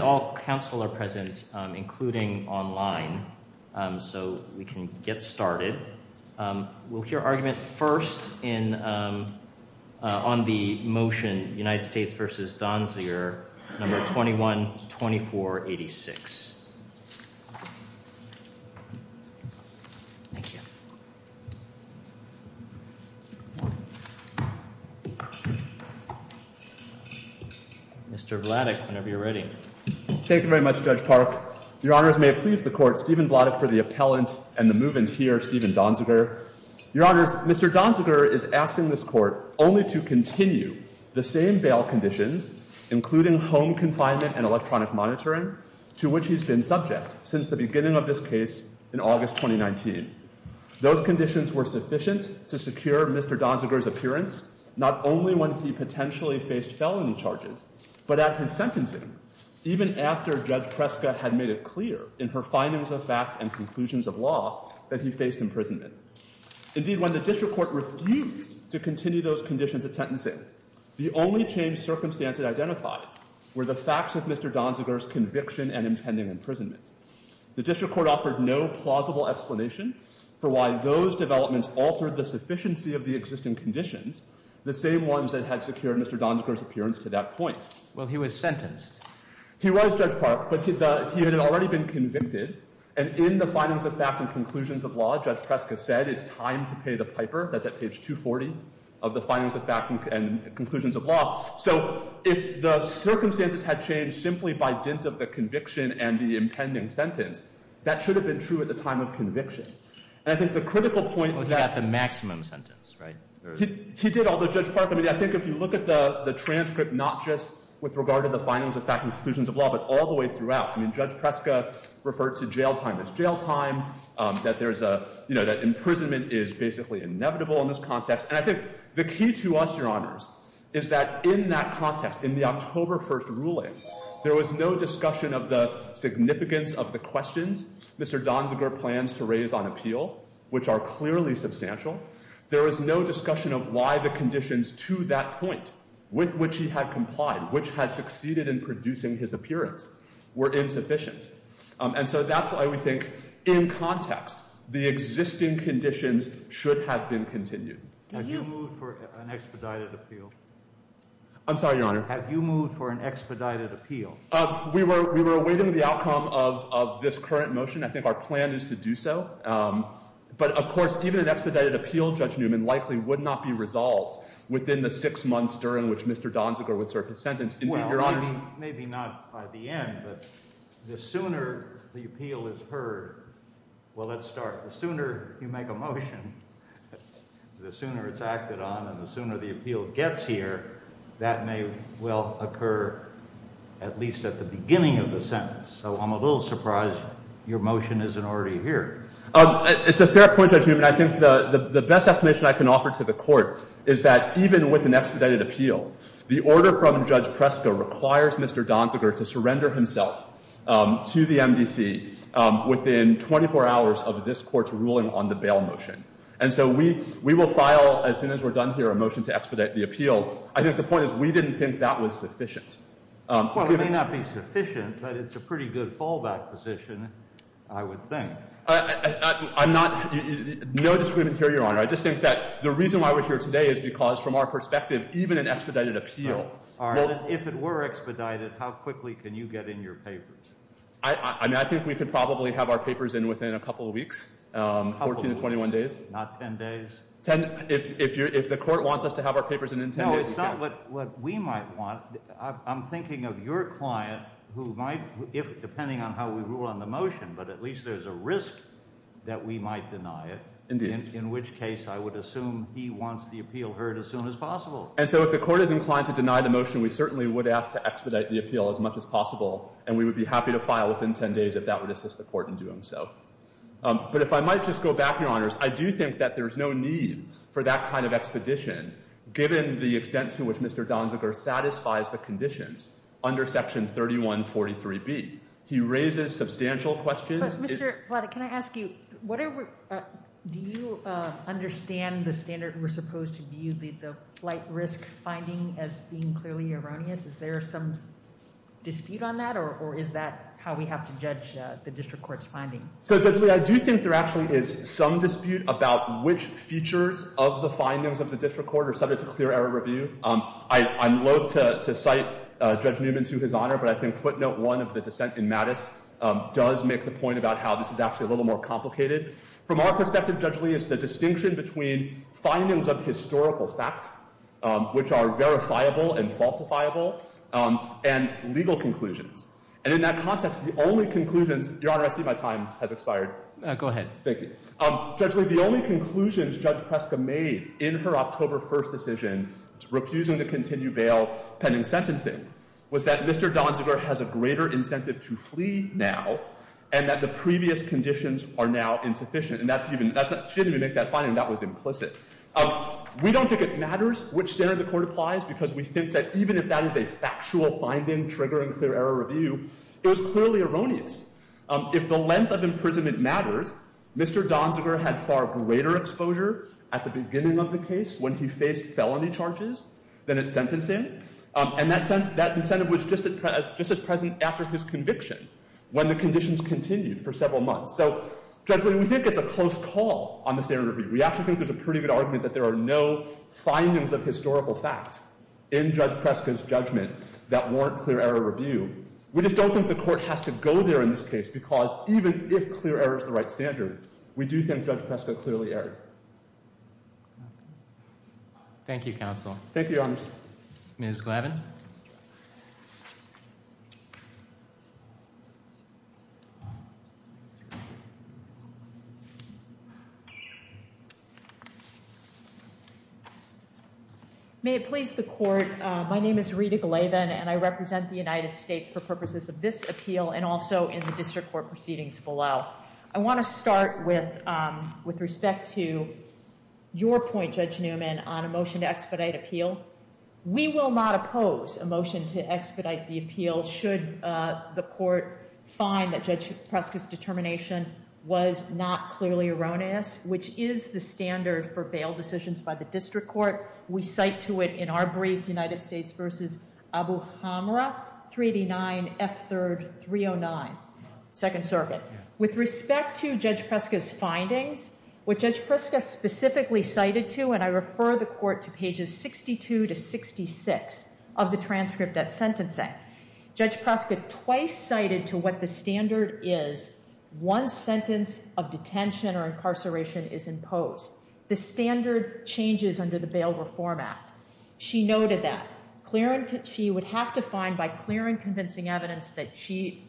21-24-86 Mr. Vladek, whenever you're ready. Thank you very much, Judge Park. Your Honors, may it please the Court, Stephen Vladek for the appellant and the move-in here, Stephen Donziger. Your Honors, Mr. Donziger is asking this Court only to continue the same bail conditions, including home confinement and electronic monitoring, to which he's been subject since the beginning of this case in August 2019. Those conditions were sufficient to secure Mr. Donziger's appearance not only when he potentially faced felony charges, but at his sentencing, even after Judge Preska had made it clear in her findings of fact and conclusions of law that he faced imprisonment. Indeed, when the District Court refused to continue those conditions at sentencing, the only changed circumstances identified were the facts of Mr. Donziger's conviction and impending imprisonment. The District Court offered no plausible explanation for why those developments altered the sufficiency of the existing conditions, the same ones that had secured Mr. Donziger's appearance to that point. Well, he was sentenced. He was, Judge Park, but he had already been convicted, and in the findings of fact and conclusions of law, Judge Preska said it's time to pay the piper. That's at page 240 of the findings of fact and conclusions of law. So if the circumstances had changed simply by dint of the conviction and the impending sentence, that should have been true at the time of conviction. And I think the critical point— Well, he got the maximum sentence, right? He did, although, Judge Park, I mean, I think if you look at the transcript, not just with regard to the findings of fact and conclusions of law, but all the way throughout, I mean, Judge Preska referred to jail time as jail time, that there is a—you know, that imprisonment is basically inevitable in this context. And I think the key to us, Your Honors, is that in that context, in the October 1st ruling, there was no discussion of the significance of the questions Mr. Donziger plans to raise on appeal, which are clearly substantial. There was no discussion of why the conditions to that point with which he had complied, which had succeeded in producing his appearance, were insufficient. And so that's why we think, in context, the existing conditions should have been continued. Did you— Have you moved for an expedited appeal? I'm sorry, Your Honor. Have you moved for an expedited appeal? We were awaiting the outcome of this current motion. I think our plan is to do so. But, of course, even an expedited appeal, Judge Newman, likely would not be resolved within the six months during which Mr. Donziger would serve his sentence. Well, maybe not by the end, but the sooner the appeal is heard—well, let's start. The sooner you make a motion, the sooner it's acted on, and the sooner the appeal gets here, that may well occur at least at the beginning of the sentence. So I'm a little surprised your motion isn't already here. It's a fair point, Judge Newman. I think the best estimation I can offer to the Court is that even with an expedited appeal, the order from Judge Presko requires Mr. Donziger to surrender himself to the MDC within 24 hours of this Court's ruling on the bail motion. And so we will file, as soon as we're done here, a motion to expedite the appeal. I think the point is we didn't think that was sufficient. Well, it may not be sufficient, but it's a pretty good fallback position, I would think. I'm not—no disagreement here, Your Honor. I just think that the reason why we're here today is because from our perspective, even an expedited appeal— All right. If it were expedited, how quickly can you get in your papers? I mean, I think we could probably have our papers in within a couple of weeks, 14 to 21 days. Not 10 days? If the Court wants us to have our papers in in 10 days, we can. No, it's not what we might want. I'm thinking of your client who might—depending on how we rule on the motion, but at least there's a risk that we might deny it. Indeed. In which case, I would assume he wants the appeal heard as soon as possible. And so if the Court is inclined to deny the motion, we certainly would ask to expedite the appeal as much as possible, and we would be happy to file within 10 days if that would assist the Court in doing so. But if I might just go back, Your Honors, I do think that there's no need for that kind of expedition, given the extent to which Mr. Donziger satisfies the conditions under Section 3143B. He raises substantial questions— But, Mr. Vladeck, can I ask you, do you understand the standard we're supposed to view the light risk finding as being clearly erroneous? Is there some dispute on that, or is that how we have to judge the district court's finding? So, Judge Lee, I do think there actually is some dispute about which features of the findings of the district court are subject to clear error review. I'm loathe to cite Judge Newman to his honor, but I think footnote 1 of the dissent in Mattis does make the point about how this is actually a little more complicated. From our perspective, Judge Lee, it's the distinction between findings of historical fact, which are verifiable and falsifiable, and legal conclusions. And in that context, the only conclusions—Your Honor, I see my time has expired. Go ahead. Thank you. Judge Lee, the only conclusions Judge Preska made in her October 1st decision, refusing to continue bail pending sentencing, was that Mr. Donziger has a greater incentive to flee now, and that the previous conditions are now insufficient. And that's even—she didn't even make that finding. That was implicit. We don't think it matters which standard the court applies because we think that even if that is a factual finding triggering clear error review, it was clearly erroneous. If the length of imprisonment matters, Mr. Donziger had far greater exposure at the beginning of the case when he faced felony charges than at sentencing. And that incentive was just as present after his conviction when the conditions continued for several months. So, Judge Lee, we think it's a close call on the standard review. We actually think there's a pretty good argument that there are no findings of historical fact in Judge Preska's judgment that warrant clear error review. We just don't think the court has to go there in this case because even if clear error is the right standard, we do think Judge Preska clearly erred. Thank you, counsel. Thank you, Your Honor. Ms. Glavin. May it please the court, my name is Rita Glavin, and I represent the United States for purposes of this appeal and also in the district court proceedings below. I want to start with respect to your point, Judge Newman, on a motion to expedite appeal. We will not oppose a motion to expedite the appeal should the court find that Judge Preska's determination was not clearly erroneous, which is the standard for bail decisions by the district court. We cite to it in our brief, United States v. Abu Hamra, 389 F. 3rd, 309, Second Circuit. With respect to Judge Preska's findings, what Judge Preska specifically cited to, and I refer the court to pages 62 to 66 of the transcript at sentencing, Judge Preska twice cited to what the standard is once sentence of detention or incarceration is imposed. The standard changes under the Bail Reform Act. She noted that. She would have to find by clear and convincing evidence that she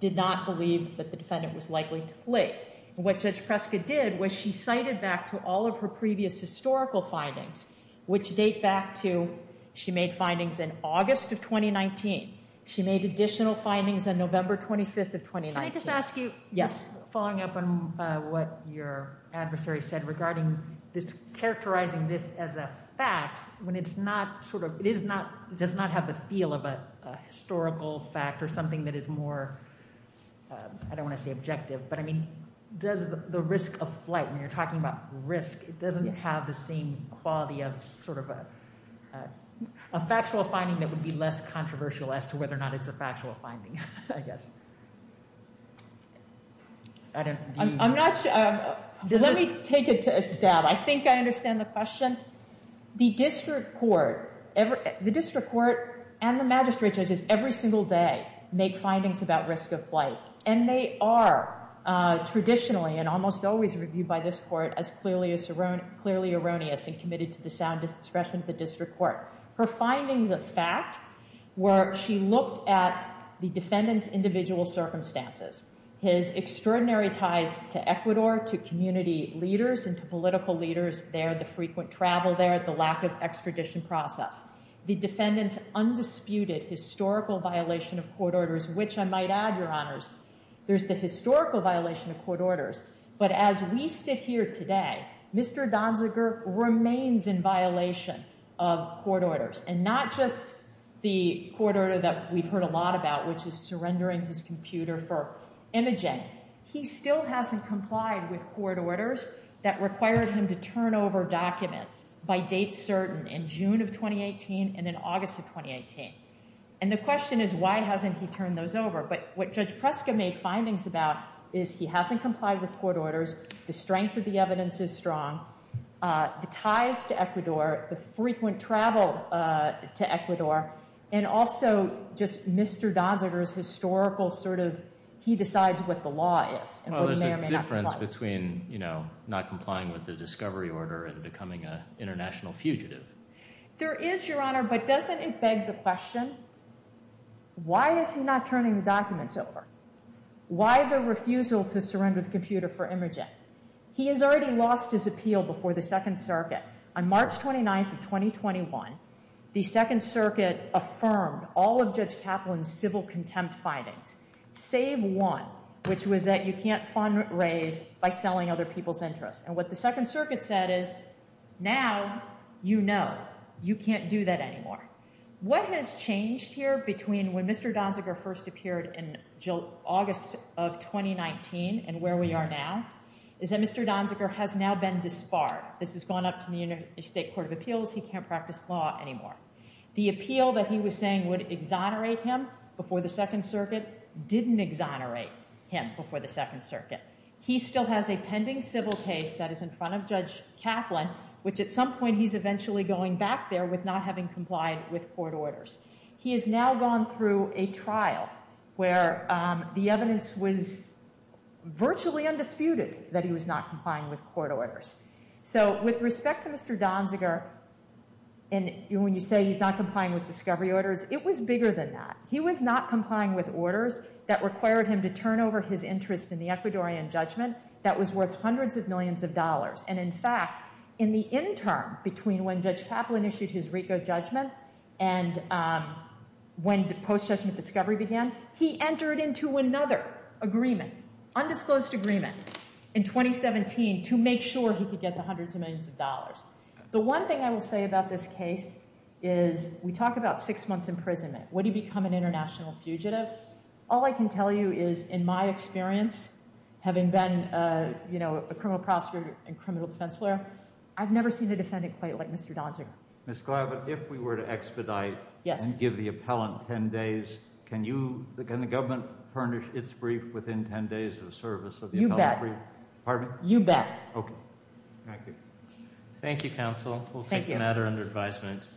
did not believe that the defendant was likely to flee. What Judge Preska did was she cited back to all of her previous historical findings, which date back to she made findings in August of 2019. She made additional findings on November 25th of 2019. Can I just ask you, following up on what your adversary said regarding this characterizing this as a fact when it's not sort of, it is not, does not have the feel of a historical fact or something that is more, I don't want to say objective, but I mean, does the risk of flight when you're talking about risk, it doesn't have the same quality of sort of a factual finding that would be less controversial as to whether or not it's a factual finding, I guess. I'm not sure. Let me take it to a stab. I think I understand the question. The district court and the magistrate judges every single day make findings about risk of flight. And they are traditionally and almost always reviewed by this court as clearly erroneous and committed to the sound discretion of the district court. Her findings of fact were she looked at the defendant's individual circumstances, his extraordinary ties to Ecuador, to community leaders and to political leaders there, the frequent travel there, the lack of extradition process. The defendant's undisputed historical violation of court orders, which I might add, Your Honors, there's the historical violation of court orders. But as we sit here today, Mr. Donziger remains in violation of court orders and not just the court order that we've heard a lot about, which is surrendering his computer for imaging. He still hasn't complied with court orders that required him to turn over documents by date certain in June of twenty eighteen and then August of twenty eighteen. And the question is, why hasn't he turned those over? But what Judge Prescott made findings about is he hasn't complied with court orders. The strength of the evidence is strong. The ties to Ecuador, the frequent travel to Ecuador, and also just Mr. Donziger's historical sort of he decides what the law is. There's a difference between, you know, not complying with the discovery order and becoming an international fugitive. There is, Your Honor, but doesn't it beg the question, why is he not turning the documents over? Why the refusal to surrender the computer for imaging? He has already lost his appeal before the Second Circuit on March twenty ninth of twenty twenty one. The Second Circuit affirmed all of Judge Kaplan's civil contempt findings, save one, which was that you can't fundraise by selling other people's interests. And what the Second Circuit said is now, you know, you can't do that anymore. What has changed here between when Mr. Donziger first appeared in August of twenty nineteen and where we are now is that Mr. Donziger has now been disbarred. This has gone up to the Interstate Court of Appeals. He can't practice law anymore. The appeal that he was saying would exonerate him before the Second Circuit didn't exonerate him before the Second Circuit. He still has a pending civil case that is in front of Judge Kaplan, which at some point he's eventually going back there with not having complied with court orders. He has now gone through a trial where the evidence was virtually undisputed that he was not complying with court orders. So with respect to Mr. Donziger, and when you say he's not complying with discovery orders, it was bigger than that. He was not complying with orders that required him to turn over his interest in the Ecuadorian judgment that was worth hundreds of millions of dollars. And in fact, in the interim between when Judge Kaplan issued his RICO judgment and when the post-judgment discovery began, he entered into another agreement, undisclosed agreement, in twenty seventeen to make sure he could get the hundreds of millions of dollars. The one thing I will say about this case is we talk about six months imprisonment. Would he become an international fugitive? All I can tell you is in my experience, having been, you know, a criminal prosecutor and criminal defense lawyer, I've never seen a defendant quite like Mr. Donziger. Ms. Glavitt, if we were to expedite and give the appellant ten days, can you, can the government furnish its brief within ten days of the service of the appellant? You bet. Pardon me? You bet. Okay. Thank you. Thank you, counsel. Thank you. We'll take the matter under advisement.